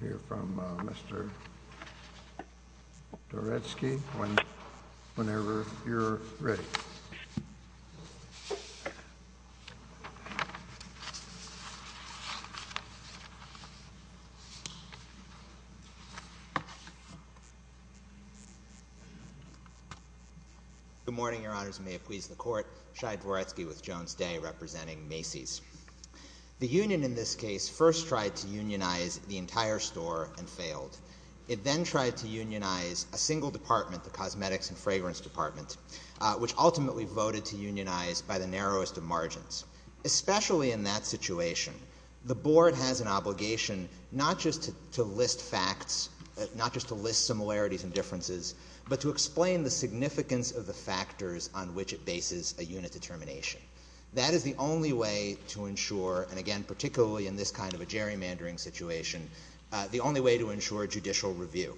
Hearing from Mr. Doretsky, whenever you're ready. Good morning, Your Honors, and may it please the Court, Shai Doretsky with Jones Day representing Macy's. The union in this case first tried to unionize the entire store and failed. It then tried to unionize a single department, the Cosmetics and Fragrance Department, which ultimately voted to unionize by the narrowest of margins. Especially in that situation, the Board has an obligation not just to list facts, not just to list similarities and differences, but to explain the significance of the factors on which it bases a unit determination. That is the only way to ensure, and again, particularly in this kind of a gerrymandering situation, the only way to ensure judicial review.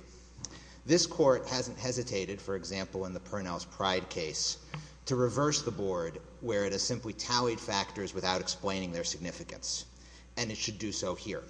This Court hasn't hesitated, for example, in the Purnell's Pride case, to reverse the Board where it has simply tallied factors without explaining their significance, and it should do so here.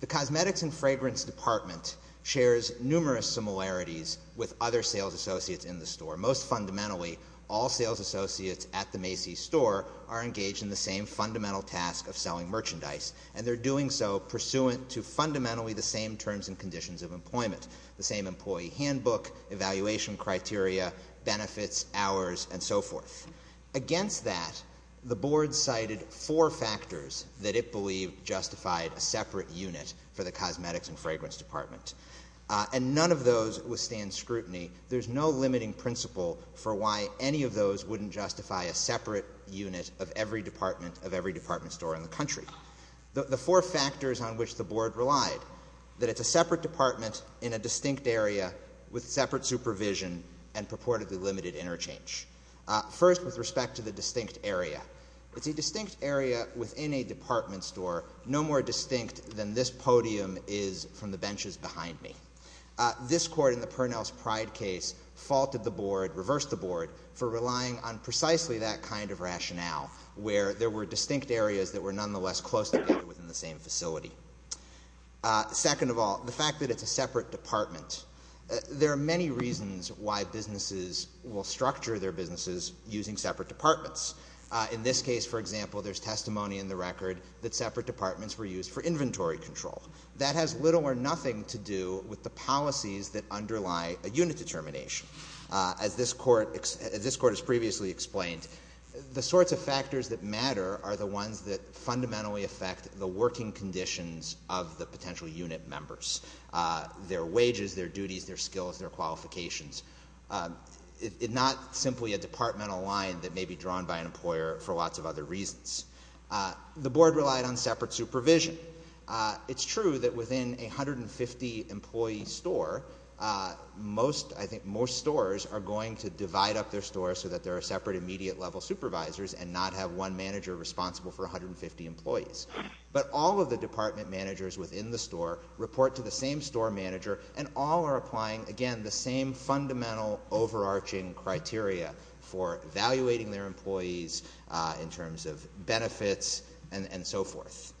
The Cosmetics and Fragrance Department shares numerous similarities with other sales associates in the store. Most fundamentally, all sales associates at the Macy's store are engaged in the same fundamental task of selling merchandise, and they're doing so pursuant to fundamentally the same terms and conditions of employment, the same employee handbook, evaluation criteria, benefits, hours, and so forth. Against that, the Board cited four factors that it believed justified a separate unit for the Cosmetics and Fragrance Department, and none of those withstand scrutiny. There's no limiting principle for why any of those wouldn't justify a separate unit of every department of every department store in the country. The four factors on which the Board relied, that it's a separate department in a distinct area with separate supervision and purportedly limited interchange. First with respect to the distinct area, it's a distinct area within a department store, no more distinct than this podium is from the benches behind me. This Court in the Purnell's Pride case faulted the Board, reversed the Board, for relying on precisely that kind of rationale, where there were distinct areas that were nonetheless close together within the same facility. Second of all, the fact that it's a separate department, there are many reasons why businesses will structure their businesses using separate departments. In this case, for example, there's testimony in the record that separate departments were used for inventory control. That has little or nothing to do with the policies that underlie a unit determination. As this Court has previously explained, the sorts of factors that matter are the ones that fundamentally affect the working conditions of the potential unit members. Their wages, their duties, their skills, their qualifications. Not simply a departmental line that may be drawn by an employer for lots of other reasons. The Board relied on separate supervision. It's true that within a 150-employee store, most, I think, most stores are going to divide up their stores so that there are separate immediate level supervisors and not have one manager responsible for 150 employees. But all of the department managers within the store report to the same store manager and all are applying, again, the same fundamental overarching criteria for evaluating their employees in terms of benefits and so forth.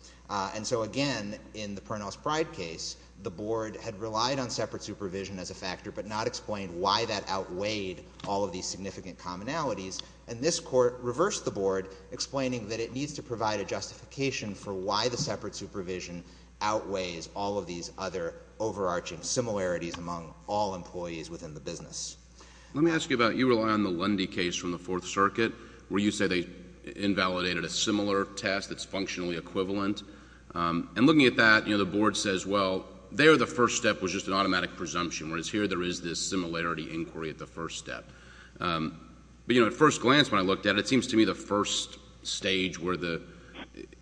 And so, again, in the Pernod's Pride case, the Board had relied on separate supervision as a factor but not explained why that outweighed all of these significant commonalities. And this Court reversed the Board, explaining that it needs to provide a justification for why the separate supervision outweighs all of these other overarching similarities among all employees within the business. Let me ask you about, you rely on the Lundy case from the Fourth Circuit, where you say they invalidated a similar test that's functionally equivalent. And looking at that, you know, the Board says, well, there the first step was just an automatic presumption, whereas here there is this similarity inquiry at the first step. But, you know, at first glance, when I looked at it, it seems to me the first stage where the,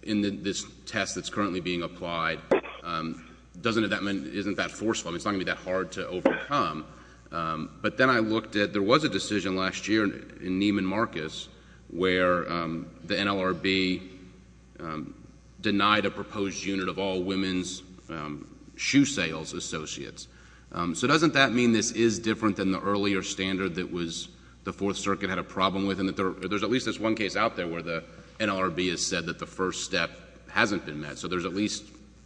in this test that's currently being applied, doesn't have that, isn't that forceful. I mean, it's not going to be that hard to overcome. But then I looked at, there was a decision last year in Neiman Marcus, where the NLRB denied a proposed unit of all women's shoe sales associates. So doesn't that mean this is different than the earlier standard that was, the Fourth Circuit had a problem with, and that there's at least this one case out there where the NLRB has said that the first step hasn't been met. So there's at least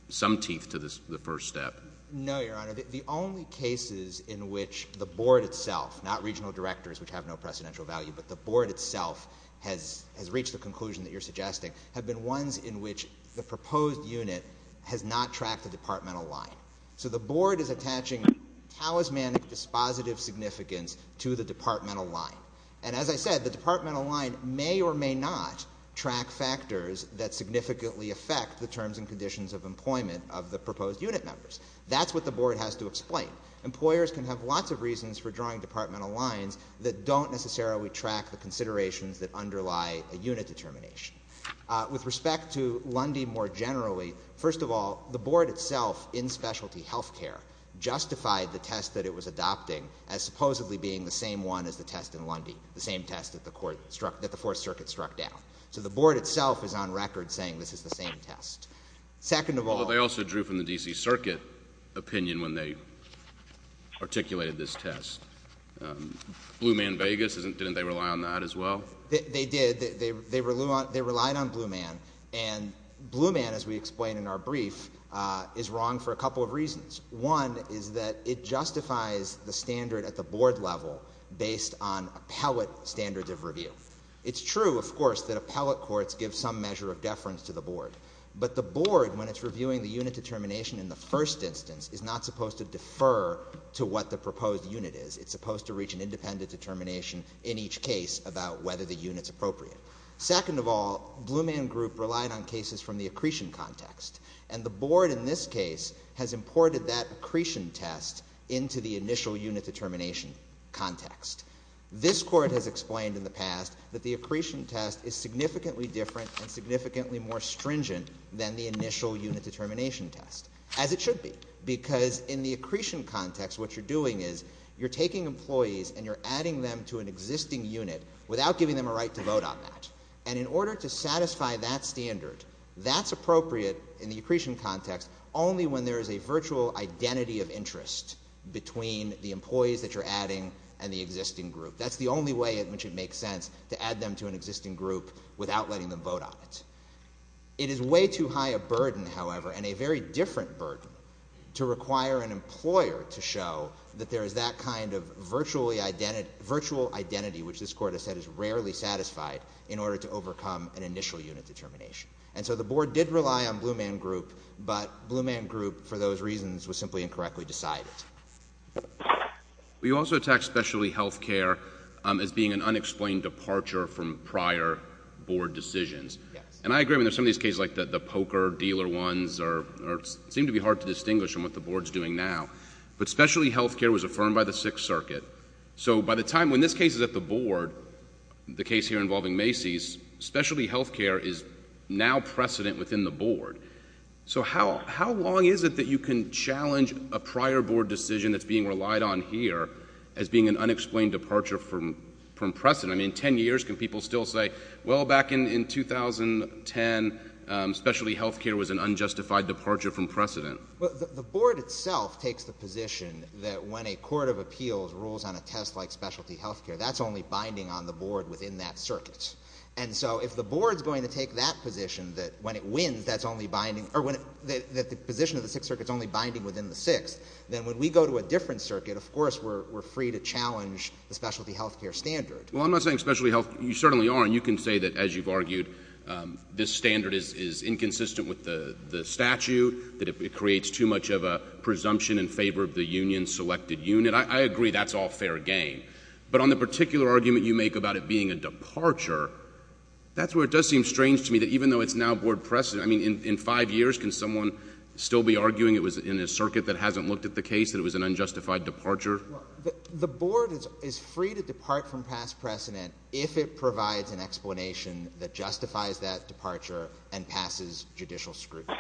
some teeth to the first step. No, Your Honor. The only cases in which the Board itself, not regional directors, which have no precedential value, but the Board itself has reached the conclusion that you're suggesting, have been ones in which the proposed unit has not tracked the departmental line. So the Board is attaching talismanic dispositive significance to the departmental line. And as I said, the departmental line may or may not track factors that significantly affect the terms and conditions of employment of the proposed unit members. That's what the Board has to explain. Employers can have lots of reasons for drawing departmental lines that don't necessarily track the considerations that underlie a unit determination. With respect to Lundy more generally, first of all, the Board itself in specialty health care justified the test that it was adopting as supposedly being the same one as the test in Lundy, the same test that the Court struck, that the Fourth Circuit struck down. So the Board itself is on record saying this is the same test. Second of all— Although they also drew from the D.C. Circuit opinion when they articulated this test. Blue Man Vegas, didn't they rely on that as well? They did. They relied on Blue Man, and Blue Man, as we explain in our brief, is wrong for a couple of reasons. One is that it justifies the standard at the Board level based on appellate standards of review. It's true, of course, that appellate courts give some measure of deference to the Board, but the Board, when it's reviewing the unit determination in the first instance, is not supposed to defer to what the proposed unit is. It's supposed to reach an independent determination in each case about whether the unit's appropriate. Second of all, Blue Man Group relied on cases from the accretion context, and the Board in this case has imported that accretion test into the initial unit determination context. This Court has explained in the past that the accretion test is significantly different and significantly more stringent than the initial unit determination test, as it should be, because in the accretion context, what you're doing is you're taking employees and you're adding them to an existing unit without giving them a right to vote on that. And in order to satisfy that standard, that's appropriate in the accretion context only when there is a virtual identity of interest between the employees that you're adding and the existing group. That's the only way in which it makes sense to add them to an existing group without letting them vote on it. It is way too high a burden, however, and a very different burden, to require an employer to show that there is that kind of virtual identity, which this Court has said is rarely satisfied, in order to overcome an initial unit determination. And so the Board did rely on Blue Man Group, but Blue Man Group, for those reasons, was simply incorrectly decided. We also attacked specialty health care as being an unexplained departure from prior Board decisions. Yes. And I agree with some of these cases, like the poker dealer ones, seem to be hard to distinguish from what the Board is doing now. But specialty health care was affirmed by the Sixth Circuit. So by the time, when this case is at the Board, the case here involving Macy's, specialty health care is now precedent within the Board. So how long is it that you can challenge a prior Board decision that's being relied on here as being an unexplained departure from precedent? I mean, 10 years, can people still say, well, back in 2010, specialty health care was an unjustified departure from precedent? The Board itself takes the position that when a court of appeals rules on a test like specialty health care, that's only binding on the Board within that circuit. And so if the Board's going to take that position, that when it wins, that's only binding, or when the position of the Sixth Circuit's only binding within the Sixth, then when we go to a different circuit, of course, we're free to challenge the specialty health care standard. Well, I'm not saying specialty health care, you certainly are, and you can say that, as you've argued, this standard is inconsistent with the statute, that it creates too much of a presumption in favor of the union's selected unit. I agree that's all fair game. But on the particular argument you make about it being a departure, that's where it does seem strange to me that even though it's now Board precedent, I mean, in 5 years, can someone still be arguing it was in a circuit that hasn't looked at the case, that it was an unjustified departure? The Board is free to depart from past precedent if it provides an explanation that justifies that departure and passes judicial scrutiny.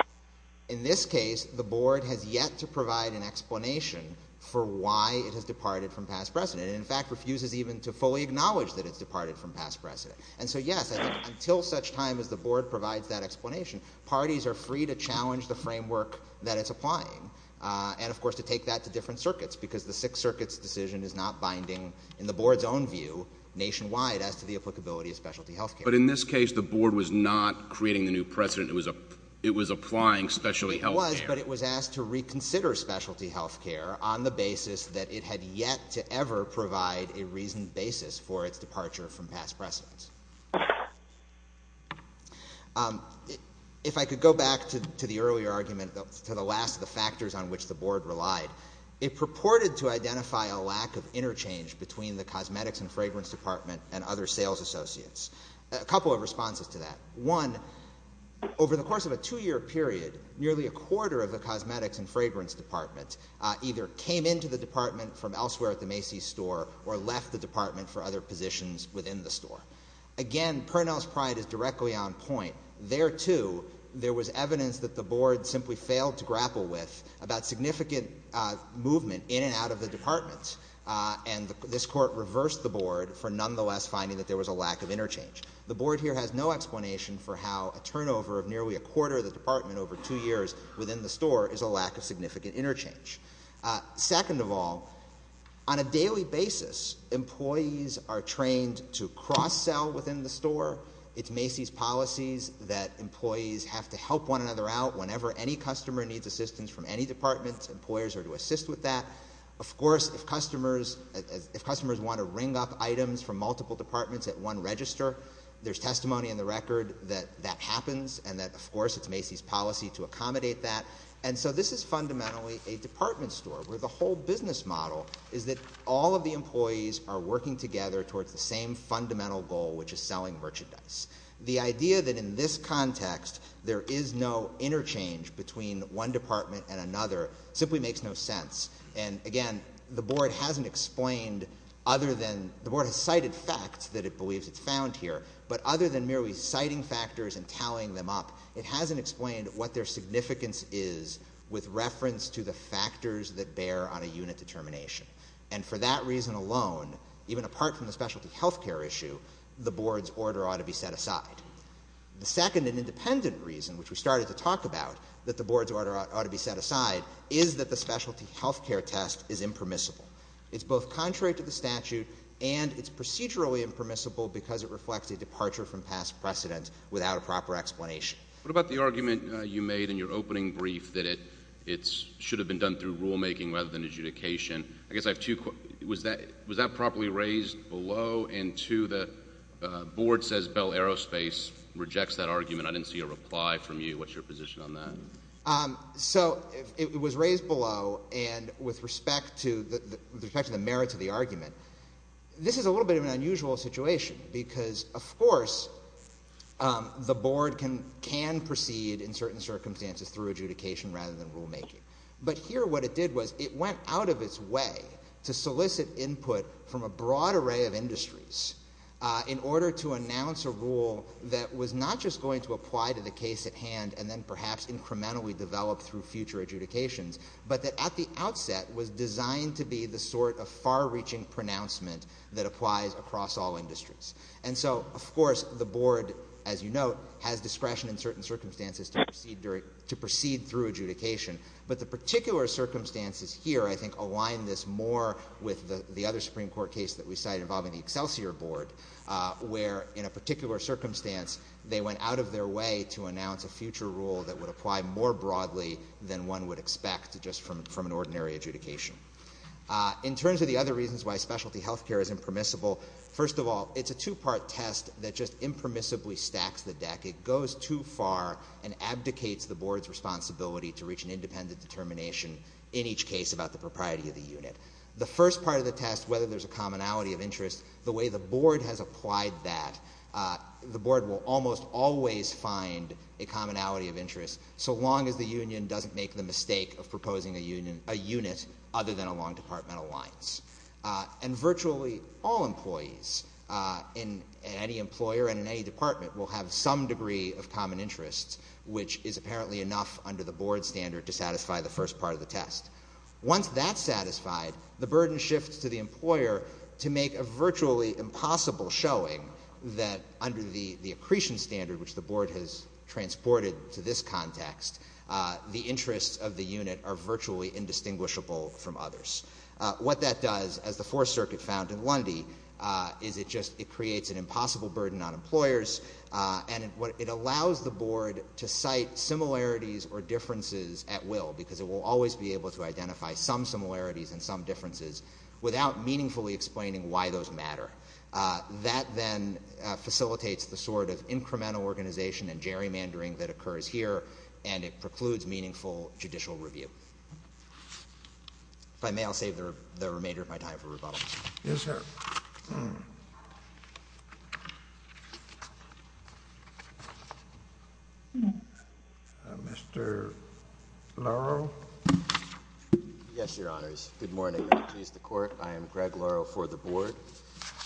In this case, the Board has yet to provide an explanation for why it has departed from precedent. In fact, refuses even to fully acknowledge that it's departed from past precedent. And so, yes, until such time as the Board provides that explanation, parties are free to challenge the framework that it's applying, and of course, to take that to different circuits, because the Sixth Circuit's decision is not binding in the Board's own view nationwide as to the applicability of specialty health care. But in this case, the Board was not creating the new precedent, it was applying specialty health care. It was, but it was asked to reconsider specialty health care on the basis that it had yet to ever provide a reasoned basis for its departure from past precedent. If I could go back to the earlier argument, to the last of the factors on which the Board relied, it purported to identify a lack of interchange between the Cosmetics and Fragrance Department and other sales associates. A couple of responses to that. One, over the course of a two-year period, nearly a quarter of the Cosmetics and Fragrance Department either came into the department from elsewhere at the Macy's store or left the department for other positions within the store. Again, Pernell's pride is directly on point. There too, there was evidence that the Board simply failed to grapple with about significant movement in and out of the department, and this Court reversed the Board for nonetheless finding that there was a lack of interchange. The Board here has no explanation for how a turnover of nearly a quarter of the department over two years within the store is a lack of significant interchange. Second of all, on a daily basis, employees are trained to cross-sell within the store. It's Macy's policies that employees have to help one another out whenever any customer needs assistance from any department. Employers are to assist with that. Of course, if customers want to ring up items from multiple departments at one register, there's testimony in the record that that happens and that, of course, it's Macy's policy to accommodate that. And so this is fundamentally a department store where the whole business model is that all of the employees are working together towards the same fundamental goal, which is selling merchandise. The idea that in this context there is no interchange between one department and another simply makes no sense. And again, the Board hasn't explained other than the Board has cited facts that it believes it's found here, but other than merely citing factors and tallying them up, it hasn't explained what their significance is with reference to the factors that bear on a unit determination. And for that reason alone, even apart from the specialty health care issue, the Board's order ought to be set aside. The second and independent reason, which we started to talk about, that the Board's order ought to be set aside is that the specialty health care test is impermissible. It's both contrary to the statute, and it's procedurally impermissible because it reflects a departure from past precedent without a proper explanation. What about the argument you made in your opening brief that it should have been done through rulemaking rather than adjudication? I guess I have two questions. Was that properly raised below, and two, the Board says Bell Aerospace rejects that argument. I didn't see a reply from you. What's your position on that? So, it was raised below, and with respect to the merits of the argument, this is a little bit of an unusual situation because, of course, the Board can proceed in certain circumstances through adjudication rather than rulemaking. But here what it did was it went out of its way to solicit input from a broad array of industries in order to announce a rule that was not just going to apply to the case at the moment that we develop through future adjudications, but that at the outset was designed to be the sort of far-reaching pronouncement that applies across all industries. And so, of course, the Board, as you note, has discretion in certain circumstances to proceed through adjudication. But the particular circumstances here, I think, align this more with the other Supreme Court case that we cite involving the Excelsior Board where, in a particular circumstance, they went out of their way to announce a future rule that would apply more broadly than one would expect just from an ordinary adjudication. In terms of the other reasons why specialty health care is impermissible, first of all, it's a two-part test that just impermissibly stacks the deck. It goes too far and abdicates the Board's responsibility to reach an independent determination in each case about the propriety of the unit. The first part of the test, whether there's a commonality of interest, the way the Board has applied that, the Board will almost always find a commonality of interest, so long as the union doesn't make the mistake of proposing a unit other than along departmental lines. And virtually all employees in any employer and in any department will have some degree of common interest, which is apparently enough under the Board standard to satisfy the first part of the test. Once that's satisfied, the burden shifts to the employer to make a virtually impossible showing that under the accretion standard, which the Board has transported to this context, the interests of the unit are virtually indistinguishable from others. What that does, as the Fourth Circuit found in Lundy, is it just creates an impossible burden on employers and it allows the Board to cite similarities or differences at will because it will always be able to identify some similarities and some differences without meaningfully explaining why those matter. That then facilitates the sort of incremental organization and gerrymandering that occurs here and it precludes meaningful judicial review. If I may, I'll save the remainder of my time for rebuttal. JUSTICE KENNEDY Yes, sir. MR. LORO. Yes, Your Honors. Good morning, Members of the Court. I am Greg Loro for the Board,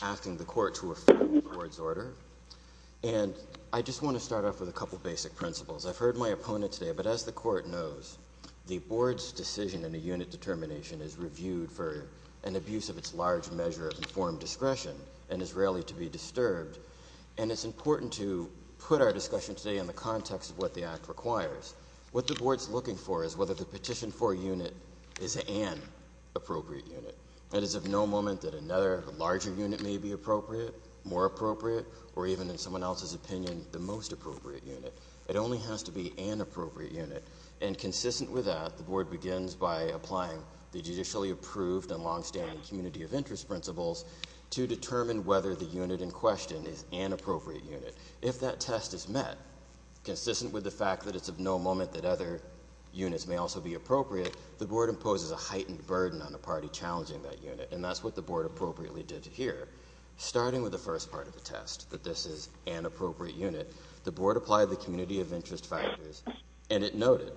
asking the Court to refer to the Board's order. And I just want to start off with a couple of basic principles. I've heard my opponent today, but as the Court knows, the Board's decision in a unit determination is reviewed for an abuse of its large measure of informed discretion and is rarely to be disturbed. And it's important to put our discussion today in the context of what the Act requires. What the Board's looking for is whether the petition for a unit is an appropriate unit. That is, of no moment that another larger unit may be appropriate, more appropriate, or even, in someone else's opinion, the most appropriate unit. It only has to be an appropriate unit. And consistent with that, the Board begins by applying the judicially approved and longstanding community of interest principles to determine whether the unit in question is an appropriate unit. If that test is met, consistent with the fact that it's of no moment that other units may also be appropriate, the Board imposes a heightened burden on the party challenging that unit. And that's what the Board appropriately did here. Starting with the first part of the test, that this is an appropriate unit, the Board applied the community of interest factors, and it noted,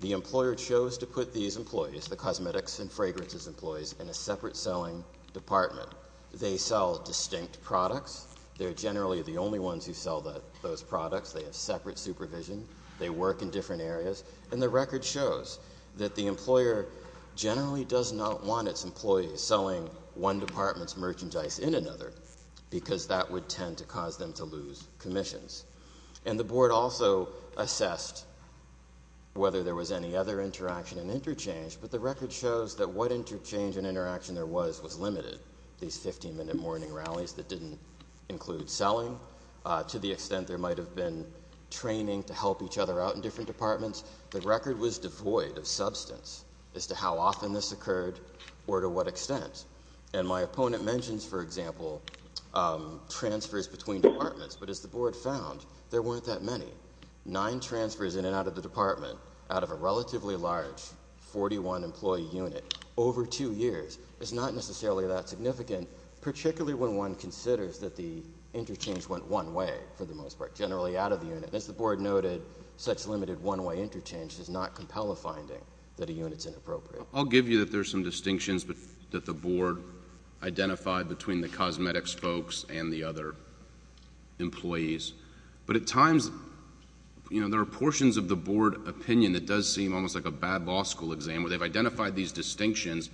the employer chose to put these employees, the cosmetics and fragrances employees, in a separate selling department. They sell distinct products. They're generally the only ones who sell those products. They have separate supervision. They work in different areas. And the record shows that the employer generally does not want its employees selling one department's And the Board also assessed whether there was any other interaction and interchange, but the record shows that what interchange and interaction there was, was limited. These 15-minute morning rallies that didn't include selling, to the extent there might have been training to help each other out in different departments, the record was devoid of substance as to how often this occurred or to what extent. And my opponent mentions, for example, transfers between departments, but as the Board found, there weren't that many. Nine transfers in and out of the department, out of a relatively large 41-employee unit, over two years, is not necessarily that significant, particularly when one considers that the interchange went one way, for the most part, generally out of the unit. As the Board noted, such limited one-way interchange does not compel a finding that a unit's inappropriate. I'll give you that there's some distinctions that the Board identified between the cosmetics folks and the other employees, but at times, you know, there are portions of the Board opinion that does seem almost like a bad law school exam, where they've identified these distinctions,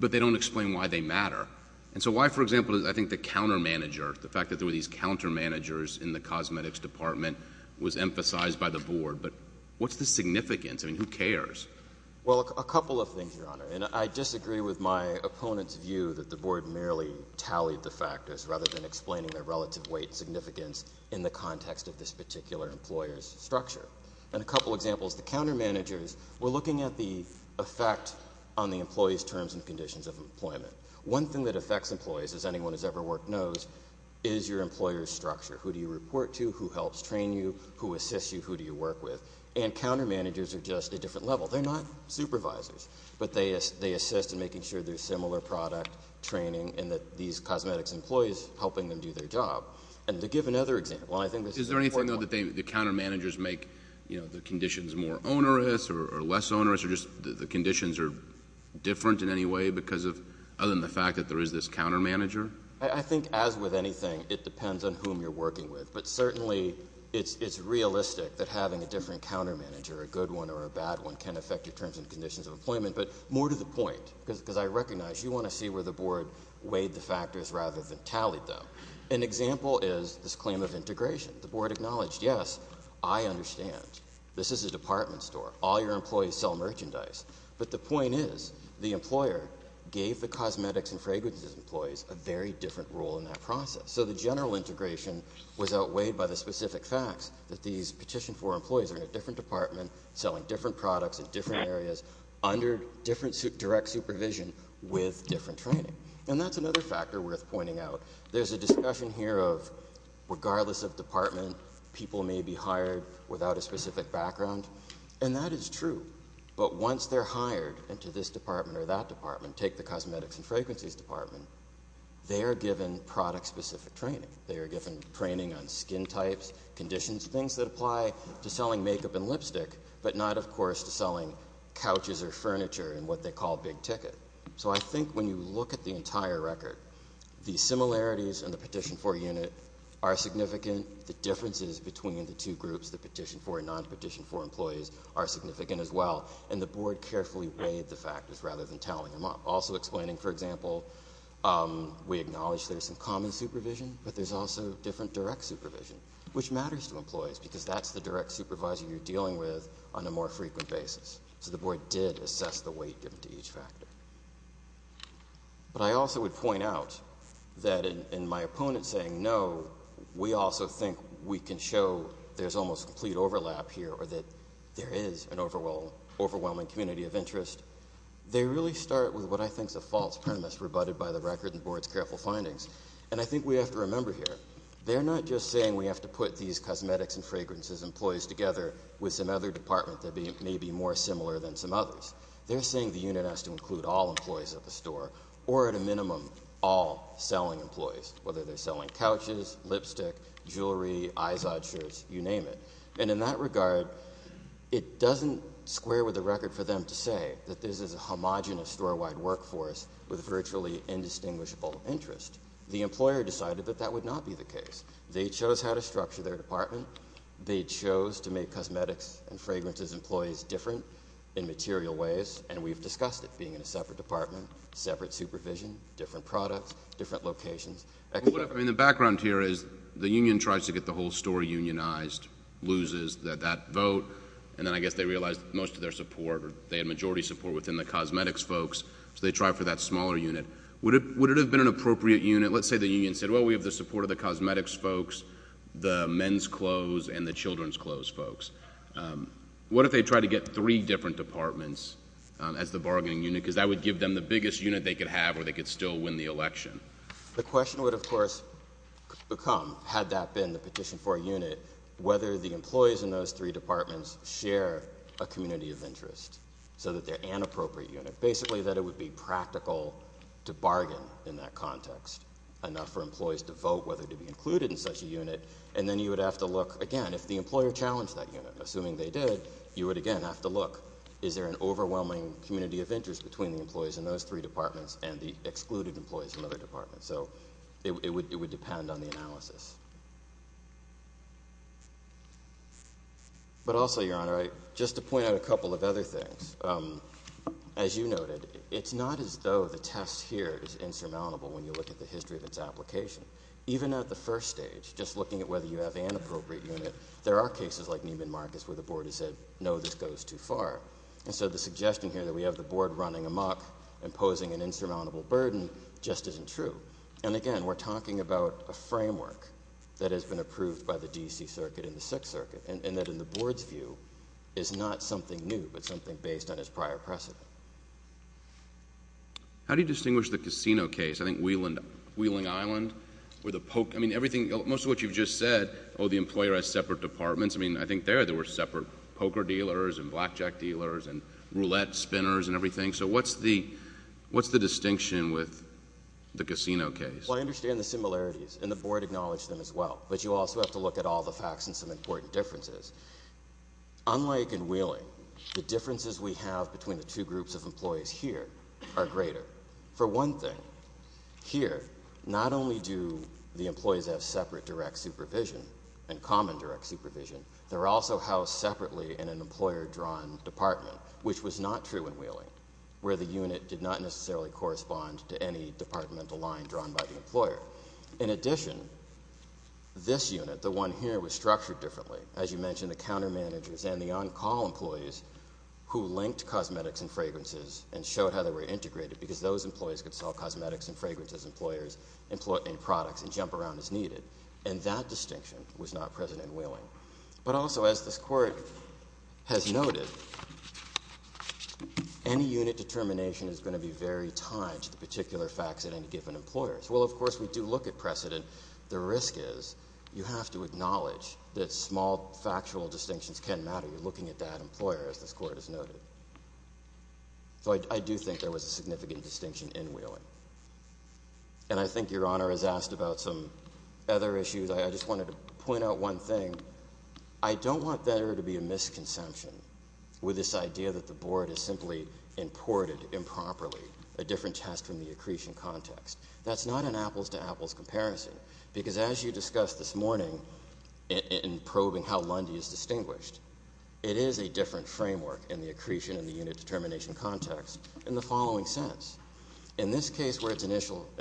but they don't explain why they matter. And so why, for example, I think the counter-manager, the fact that there were these counter-managers in the cosmetics department was emphasized by the Board, but what's the significance? I mean, who cares? Well, a couple of things, Your Honor, and I disagree with my opponent's view that the rather than explaining their relative weight and significance in the context of this particular employer's structure. And a couple of examples, the counter-managers, we're looking at the effect on the employee's terms and conditions of employment. One thing that affects employees, as anyone who's ever worked knows, is your employer's structure. Who do you report to? Who helps train you? Who assists you? Who do you work with? And counter-managers are just a different level. They're not supervisors, but they assist in making sure there's similar product training and that these cosmetics employees helping them do their job. And to give another example, and I think this is an important one. Is there anything, though, that the counter-managers make, you know, the conditions more onerous or less onerous or just the conditions are different in any way because of, other than the fact that there is this counter-manager? I think, as with anything, it depends on whom you're working with, but certainly it's realistic that having a different counter-manager, a good one or a bad one, can affect your terms and conditions of employment, but more to the point because I recognize you want to see where the board weighed the factors rather than tallied them. An example is this claim of integration. The board acknowledged, yes, I understand. This is a department store. All your employees sell merchandise. But the point is, the employer gave the cosmetics and fragrances employees a very different role in that process. So the general integration was outweighed by the specific facts that these Petition for Employees are in a different department selling different products in different areas under different direct supervision with different training. And that's another factor worth pointing out. There's a discussion here of, regardless of department, people may be hired without a specific background, and that is true. But once they're hired into this department or that department, take the cosmetics and fragrances department, they are given product-specific training. They are given training on skin types, conditions, things that apply to selling makeup and lipstick, but not, of course, to selling couches or furniture and what they call big ticket. So I think when you look at the entire record, the similarities in the Petition for Unit are significant. The differences between the two groups, the Petition for and non-Petition for Employees, are significant as well. And the board carefully weighed the factors rather than tallied them up. Also explaining, for example, we acknowledge there's some common supervision, but there's also different direct supervision, which matters to employees because that's the direct supervisor you're dealing with on a more frequent basis. So the board did assess the weight given to each factor. But I also would point out that in my opponent saying, no, we also think we can show there's almost complete overlap here or that there is an overwhelming community of interest, they really start with what I think is a false premise rebutted by the record and the board's careful findings. And I think we have to remember here, they're not just saying we have to put these cosmetics and fragrances employees together with some other department that may be more similar than some others. They're saying the unit has to include all employees at the store, or at a minimum, all selling employees, whether they're selling couches, lipstick, jewelry, Izod shirts, you name it. And in that regard, it doesn't square with the record for them to say that this is a homogenous store-wide workforce with virtually indistinguishable interest. The employer decided that that would not be the case. They chose how to structure their department. They chose to make cosmetics and fragrances employees different in material ways, and we've discussed it, being in a separate department, separate supervision, different products, different locations. I mean, the background here is the union tries to get the whole store unionized, loses that vote, and then I guess they realize most of their support, or they had majority support within the cosmetics folks, so they try for that smaller unit. Would it have been an appropriate unit, let's say the union said, well, we have the support of the cosmetics folks, the men's clothes, and the children's clothes folks. What if they try to get three different departments as the bargaining unit, because that would give them the biggest unit they could have, or they could still win the election? The question would, of course, become, had that been the petition for a unit, whether the employees in those three departments share a community of interest, so that they're an appropriate unit. Basically, that it would be practical to bargain in that context, enough for employees to vote whether to be included in such a unit, and then you would have to look, again, if the employer challenged that unit, assuming they did, you would, again, have to look. Is there an overwhelming community of interest between the employees in those three departments and the excluded employees in other departments? So it would depend on the analysis. But also, Your Honor, just to point out a couple of other things. As you noted, it's not as though the test here is insurmountable when you look at the board. Even at the first stage, just looking at whether you have an appropriate unit, there are cases like Neiman Marcus, where the board has said, no, this goes too far, and so the suggestion here that we have the board running amok, imposing an insurmountable burden, just isn't true. And again, we're talking about a framework that has been approved by the D.C. Circuit and the Sixth Circuit, and that, in the board's view, is not something new, but something based on its prior precedent. How do you distinguish the casino case? I think Wheeling Island, where the poker—I mean, most of what you've just said, oh, the employer has separate departments. I mean, I think there, there were separate poker dealers and blackjack dealers and roulette spinners and everything. So what's the distinction with the casino case? Well, I understand the similarities, and the board acknowledged them as well, but you also have to look at all the facts and some important differences. Unlike in Wheeling, the differences we have between the two groups of employees here are greater. For one thing, here, not only do the employees have separate direct supervision and common direct supervision, they're also housed separately in an employer-drawn department, which was not true in Wheeling, where the unit did not necessarily correspond to any departmental line drawn by the employer. In addition, this unit, the one here, was structured differently. As you mentioned, the countermanagers and the on-call employees who linked cosmetics and fragrances and showed how they were integrated, because those employees could sell cosmetics and fragrances, employers, and products and jump around as needed, and that distinction was not present in Wheeling. But also, as this Court has noted, any unit determination is going to be very tied to the particular facts at any given employer. So while, of course, we do look at precedent, the risk is you have to acknowledge that small factual distinctions can matter. You're looking at that employer, as this Court has noted. So I do think there was a significant distinction in Wheeling. And I think Your Honor has asked about some other issues. I just wanted to point out one thing. I don't want there to be a misconception with this idea that the Board has simply imported improperly a different test from the accretion context. That's not an apples-to-apples comparison, because as you discussed this morning in probing how Lundy is distinguished, it is a different framework in the accretion and the unit determination context in the following sense. In this case where it's an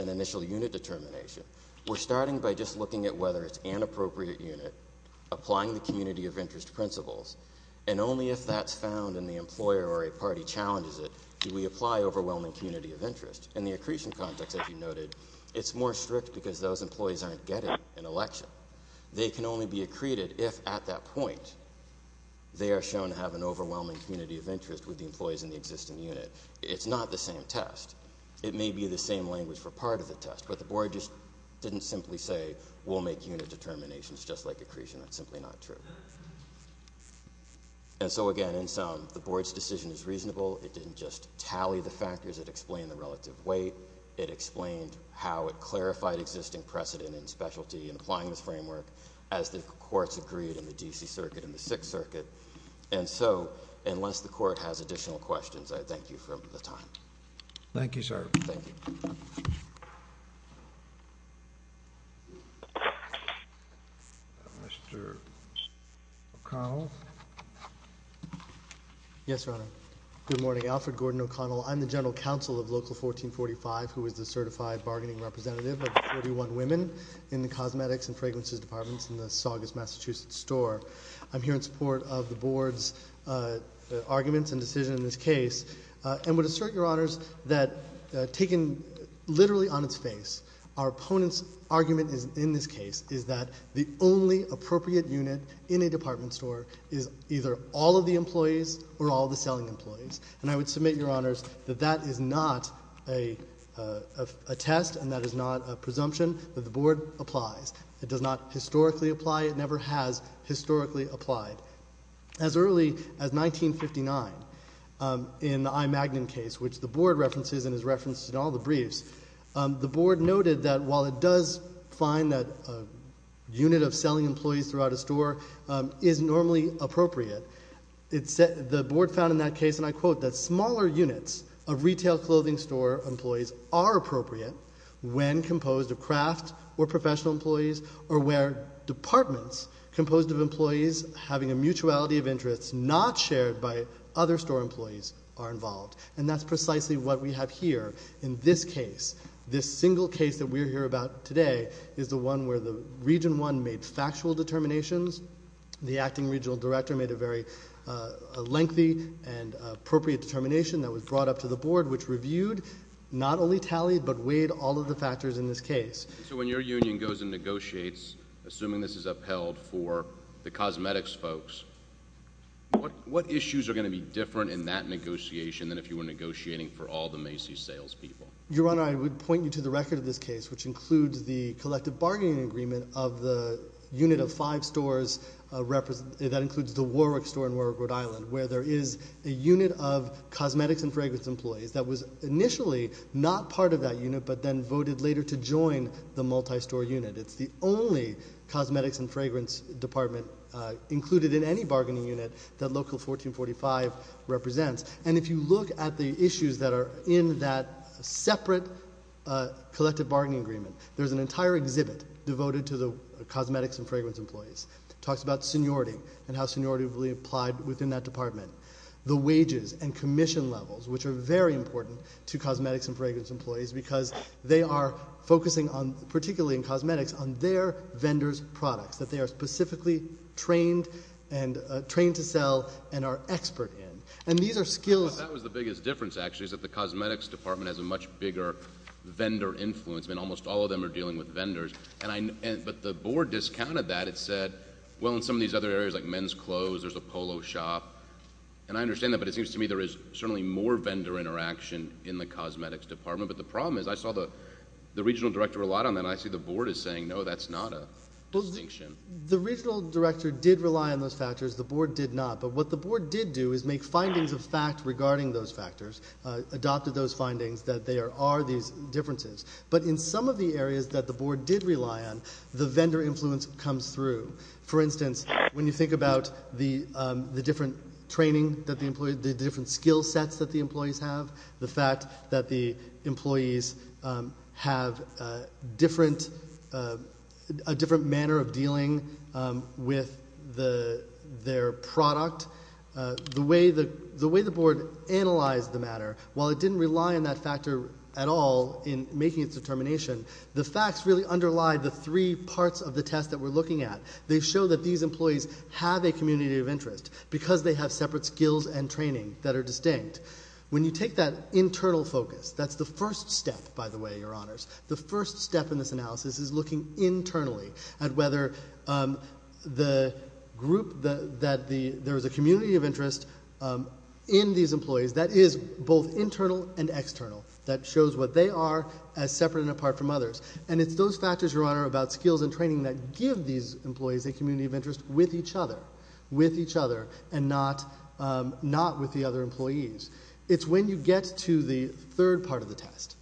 initial unit determination, we're starting by just looking at whether it's an appropriate unit, applying the community of interest principles, and only if that's found and the employer or a party challenges it do we apply overwhelming community of interest. In the accretion context, as you noted, it's more strict because those employees aren't getting an election. They can only be accreted if at that point they are shown to have an overwhelming community of interest with the employees in the existing unit. It's not the same test. It may be the same language for part of the test, but the Board just didn't simply say we'll make unit determinations just like accretion. That's simply not true. And so again, in sum, the Board's decision is reasonable. It didn't just tally the factors. It explained the relative weight. It explained how it clarified existing precedent and specialty in applying this framework as the courts agreed in the D.C. Circuit and the Sixth Circuit. And so, unless the Court has additional questions, I thank you for the time. Thank you, sir. Thank you. Mr. O'Connell? Yes, Your Honor. Good morning. Alfred Gordon O'Connell. I'm the General Counsel of Local 1445. I'm here in support of the Board's arguments and decision in this case and would assert, Your Honors, that taken literally on its face, our opponent's argument in this case is that the only appropriate unit in a department store is either all of the employees or all the selling employees. And I would submit, Your Honors, that that is not a test and that is not a presumption, that the Board applies. It does not historically apply. It never has historically applied. As early as 1959, in the I. Magnin case, which the Board references and is referenced in all the briefs, the Board noted that while it does find that a unit of selling employees throughout a store is normally appropriate, the Board found in that case, and I quote, that smaller units of retail clothing store employees are appropriate when composed of craft or professional employees or where departments composed of employees having a mutuality of interest not shared by other store employees are involved. And that's precisely what we have here in this case. This single case that we're here about today is the one where the Region 1 made factual determinations. The acting regional director made a very lengthy and appropriate determination that was brought up to the Board, which reviewed, not only tallied, but weighed all of the factors in this case. So when your union goes and negotiates, assuming this is upheld for the cosmetics folks, what issues are going to be different in that negotiation than if you were negotiating for all the Macy's salespeople? Your Honor, I would point you to the record of this case, which includes the collective bargaining agreement of the unit of five stores that includes the Warwick store in Warwick, Rhode Island, where there is a unit of cosmetics and fragrance employees that was initially not part of that unit, but then voted later to join the multi-store unit. It's the only cosmetics and fragrance department included in any bargaining unit that Local 1445 represents. If you look at the issues that are in that separate collective bargaining agreement, there's an entire exhibit devoted to the cosmetics and fragrance employees. It talks about seniority and how seniority will be applied within that department. The wages and commission levels, which are very important to cosmetics and fragrance employees because they are focusing, particularly in cosmetics, on their vendors' products that they are specifically trained to sell and are expert in. That was the biggest difference, actually, is that the cosmetics department has a much bigger vendor influence. Almost all of them are dealing with vendors, but the board discounted that. It said, well, in some of these other areas, like men's clothes, there's a polo shop, and I understand that, but it seems to me there is certainly more vendor interaction in the cosmetics department, but the problem is I saw the regional director rely on that, and I see the board is saying, no, that's not a distinction. The regional director did rely on those factors. The board did not. But what the board did do is make findings of fact regarding those factors, adopted those findings that there are these differences. But in some of the areas that the board did rely on, the vendor influence comes through. For instance, when you think about the different training that the employees, the different skill sets that the employees have, the fact that the employees have different, a different manner of dealing with their product, the way the board analyzed the matter, while it didn't rely on that factor at all in making its determination, the facts really underlie the three parts of the test that we're looking at. They show that these employees have a community of interest because they have separate skills and training that are distinct. When you take that internal focus, that's the first step, by the way, Your Honors. The first step in this analysis is looking internally at whether the group, that there is a community of interest in these employees that is both internal and external, that shows what they are as separate and apart from others. And it's those factors, Your Honor, about skills and training that give these employees a community of interest with each other, with each other, and not with the other employees. It's when you get to the third part of the test,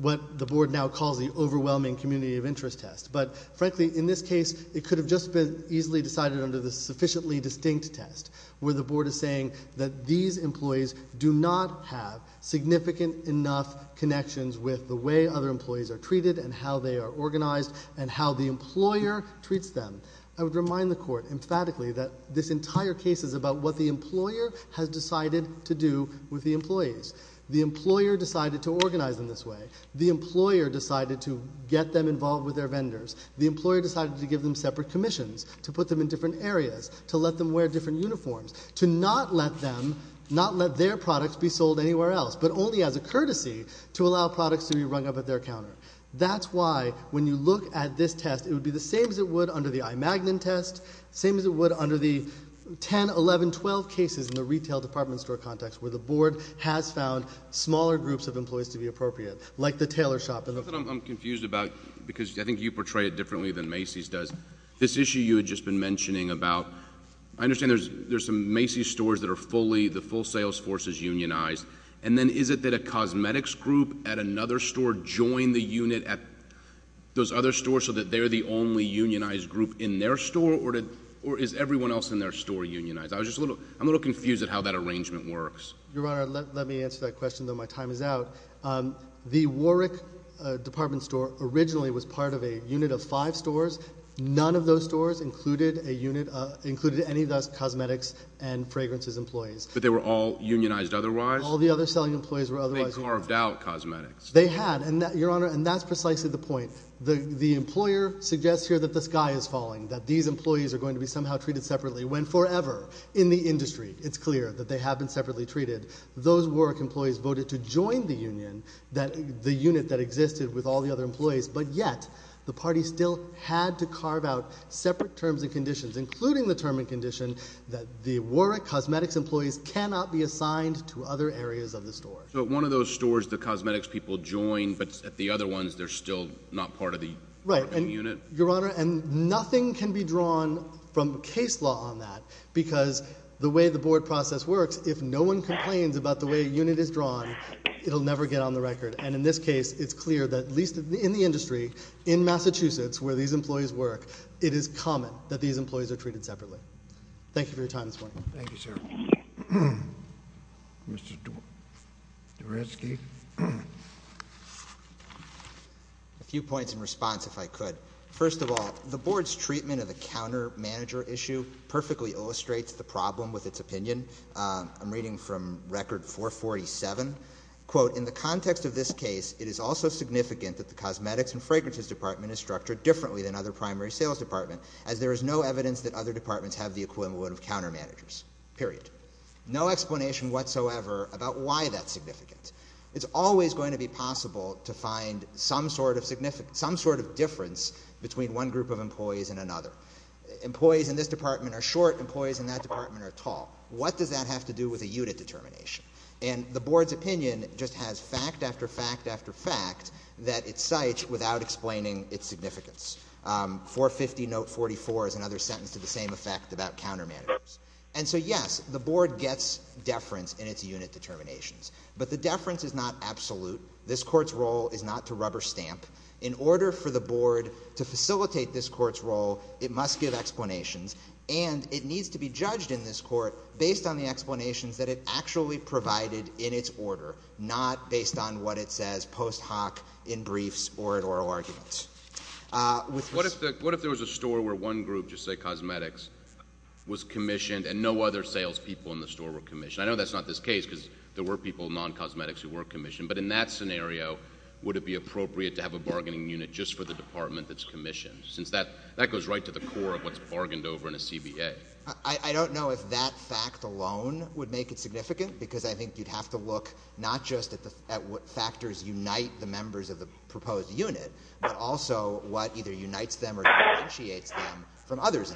what the board now calls the overwhelming community of interest test, but frankly, in this case, it could have just been easily decided under the sufficiently distinct test, where the board is saying that these employees do not have significant enough connections with the way other employees are treated and how they are organized and how the employer treats them. I would remind the Court emphatically that this entire case is about what the employer has decided to do with the employees. The employer decided to organize them this way. The employer decided to get them involved with their vendors. The employer decided to give them separate commissions, to put them in different areas, to let them wear different uniforms, to not let them, not let their products be sold anywhere else, but only as a courtesy to allow products to be rung up at their counter. That's why, when you look at this test, it would be the same as it would under the iMagnon test, same as it would under the 10, 11, 12 cases in the retail department store context where the board has found smaller groups of employees to be appropriate, like the tailor shop. I'm confused about, because I think you portray it differently than Macy's does, this issue you had just been mentioning about, I understand there's some Macy's stores that are fully, the full sales force is unionized, and then is it that a cosmetics group at another store joined the unit at those other stores so that they're the only unionized group in their store, or is everyone else in their store unionized? I'm a little confused at how that arrangement works. Your Honor, let me answer that question, though my time is out. The Warwick department store originally was part of a unit of five stores. None of those stores included any of those cosmetics and fragrances employees. But they were all unionized otherwise? All the other selling employees were otherwise unionized. They carved out cosmetics. They had, and Your Honor, and that's precisely the point. The employer suggests here that the sky is falling, that these employees are going to be somehow treated separately, when forever, in the industry, it's clear that they have been separately treated. Those Warwick employees voted to join the union, the unit that existed with all the other employees, but yet, the party still had to carve out separate terms and conditions, including the term and condition that the Warwick cosmetics employees cannot be assigned to other areas of the store. So at one of those stores, the cosmetics people join, but at the other ones, they're still not part of the unit? Right, and Your Honor, and nothing can be drawn from case law on that, because the way the board process works, if no one complains about the way a unit is drawn, it'll never get on the record. And in this case, it's clear that, at least in the industry, in Massachusetts, where these employees work, it is common that these employees are treated separately. Thank you for your time this morning. Thank you, sir. Mr. Doreski? A few points in response, if I could. First of all, the board's treatment of the countermanager issue perfectly illustrates the problem with its opinion. I'm reading from Record 447, quote, in the context of this case, it is also significant that the cosmetics and fragrances department is structured differently than other primary sales department, as there is no evidence that other departments have the equivalent of countermanagers, period. No explanation whatsoever about why that's significant. It's always going to be possible to find some sort of significance, some sort of difference between one group of employees and another. Employees in this department are short, employees in that department are tall. What does that have to do with a unit determination? And the board's opinion just has fact after fact after fact that it cites without explaining its significance. 450 note 44 is another sentence to the same effect about countermanagers. And so, yes, the board gets deference in its unit determinations, but the deference is not absolute. This court's role is not to rubber stamp. In order for the board to facilitate this court's role, it must give explanations, and it needs to be judged in this court based on the explanations that it actually provided in its order, not based on what it says post hoc, in briefs, or at oral arguments. What if there was a store where one group, just say cosmetics, was commissioned and no other salespeople in the store were commissioned? I know that's not this case, because there were people, non-cosmetics, who were commissioned, but in that scenario, would it be appropriate to have a bargaining unit just for the department that's commissioned, since that goes right to the core of what's bargained over in a CBA? I don't know if that fact alone would make it significant, because I think you'd have to look not just at what factors unite the members of the proposed unit, but also what either unites them or differentiates them from others.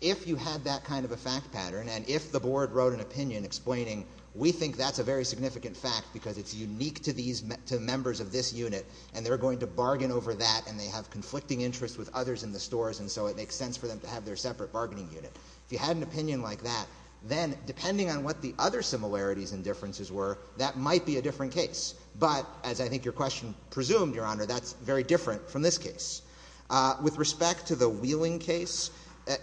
If you had that kind of a fact pattern, and if the board wrote an opinion explaining we think that's a very significant fact because it's unique to members of this unit, and they're going to bargain over that, and they have conflicting interests with others in the stores, and so it makes sense for them to have their separate bargaining unit. If you had an opinion like that, then depending on what the other similarities and differences were, that might be a different case. But as I think your question presumed, Your Honor, that's very different from this case. With respect to the Wheeling case,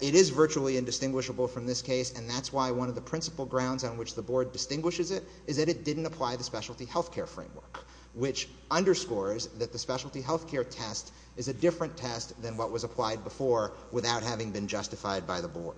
it is virtually indistinguishable from this case, and that's why one of the principal grounds on which the board distinguishes it is that it didn't apply the specialty health care framework, which underscores that the specialty health care test is a different test than what was applied before without having been justified by the board.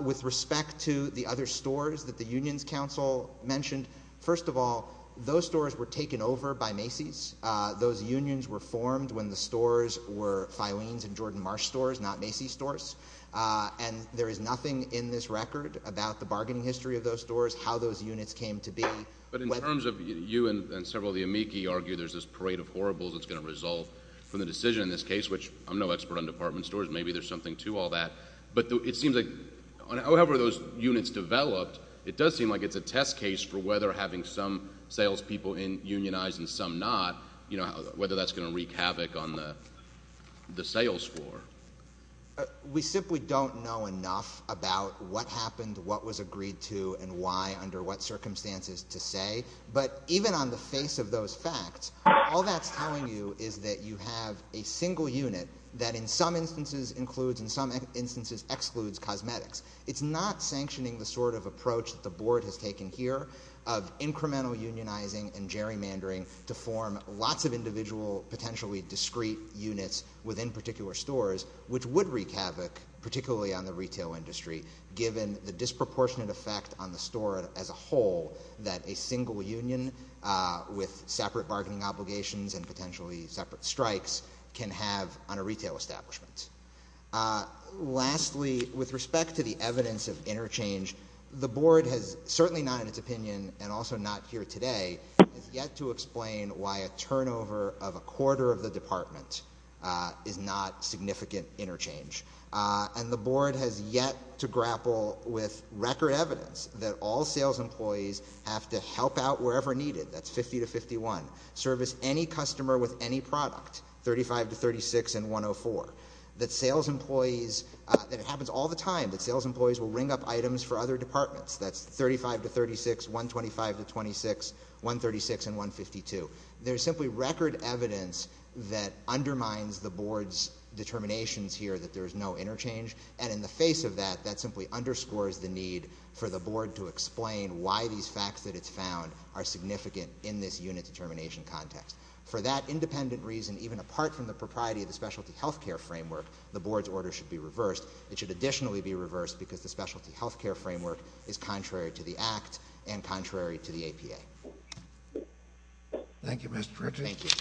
With respect to the other stores that the unions council mentioned, first of all, those stores were taken over by Macy's. Those unions were formed when the stores were Filene's and Jordan Marsh stores, not Macy's stores, and there is nothing in this record about the bargaining history of those stores, how those units came to be. But in terms of you and several of the amici argue there's this parade of horribles that's going to result from the decision in this case, which I'm no expert on department stores. Maybe there's something to all that. But it seems like however those units developed, it does seem like it's a test case for whether having some salespeople unionized and some not, you know, whether that's going to wreak havoc on the sales floor. We simply don't know enough about what happened, what was agreed to, and why under what circumstances to say. But even on the face of those facts, all that's telling you is that you have a single unit that in some instances includes, in some instances excludes cosmetics. It's not sanctioning the sort of approach that the board has taken here of incremental unionizing and gerrymandering to form lots of individual potentially discreet units within particular stores, which would wreak havoc, particularly on the retail industry, given the disproportionate effect on the store as a whole that a single union with separate bargaining obligations and potentially separate strikes can have on a retail establishment. Lastly, with respect to the evidence of interchange, the board has certainly not in its opinion and also not here today, has yet to explain why a turnover of a quarter of the department is not significant interchange. And the board has yet to grapple with record evidence that all sales employees have to help out wherever needed, that's 50 to 51. Service any customer with any product, 35 to 36 and 104. That sales employees, and it happens all the time, that sales employees will ring up items for other departments, that's 35 to 36, 125 to 26, 136 and 152. There's simply record evidence that undermines the board's determinations here that there is no interchange. And in the face of that, that simply underscores the need for the board to explain why these facts that it's found are significant in this unit determination context. For that independent reason, even apart from the propriety of the specialty healthcare framework, the board's order should be reversed. It should additionally be reversed because the specialty healthcare framework is contrary to the act and contrary to the APA. Thank you, Mr. Pritchett.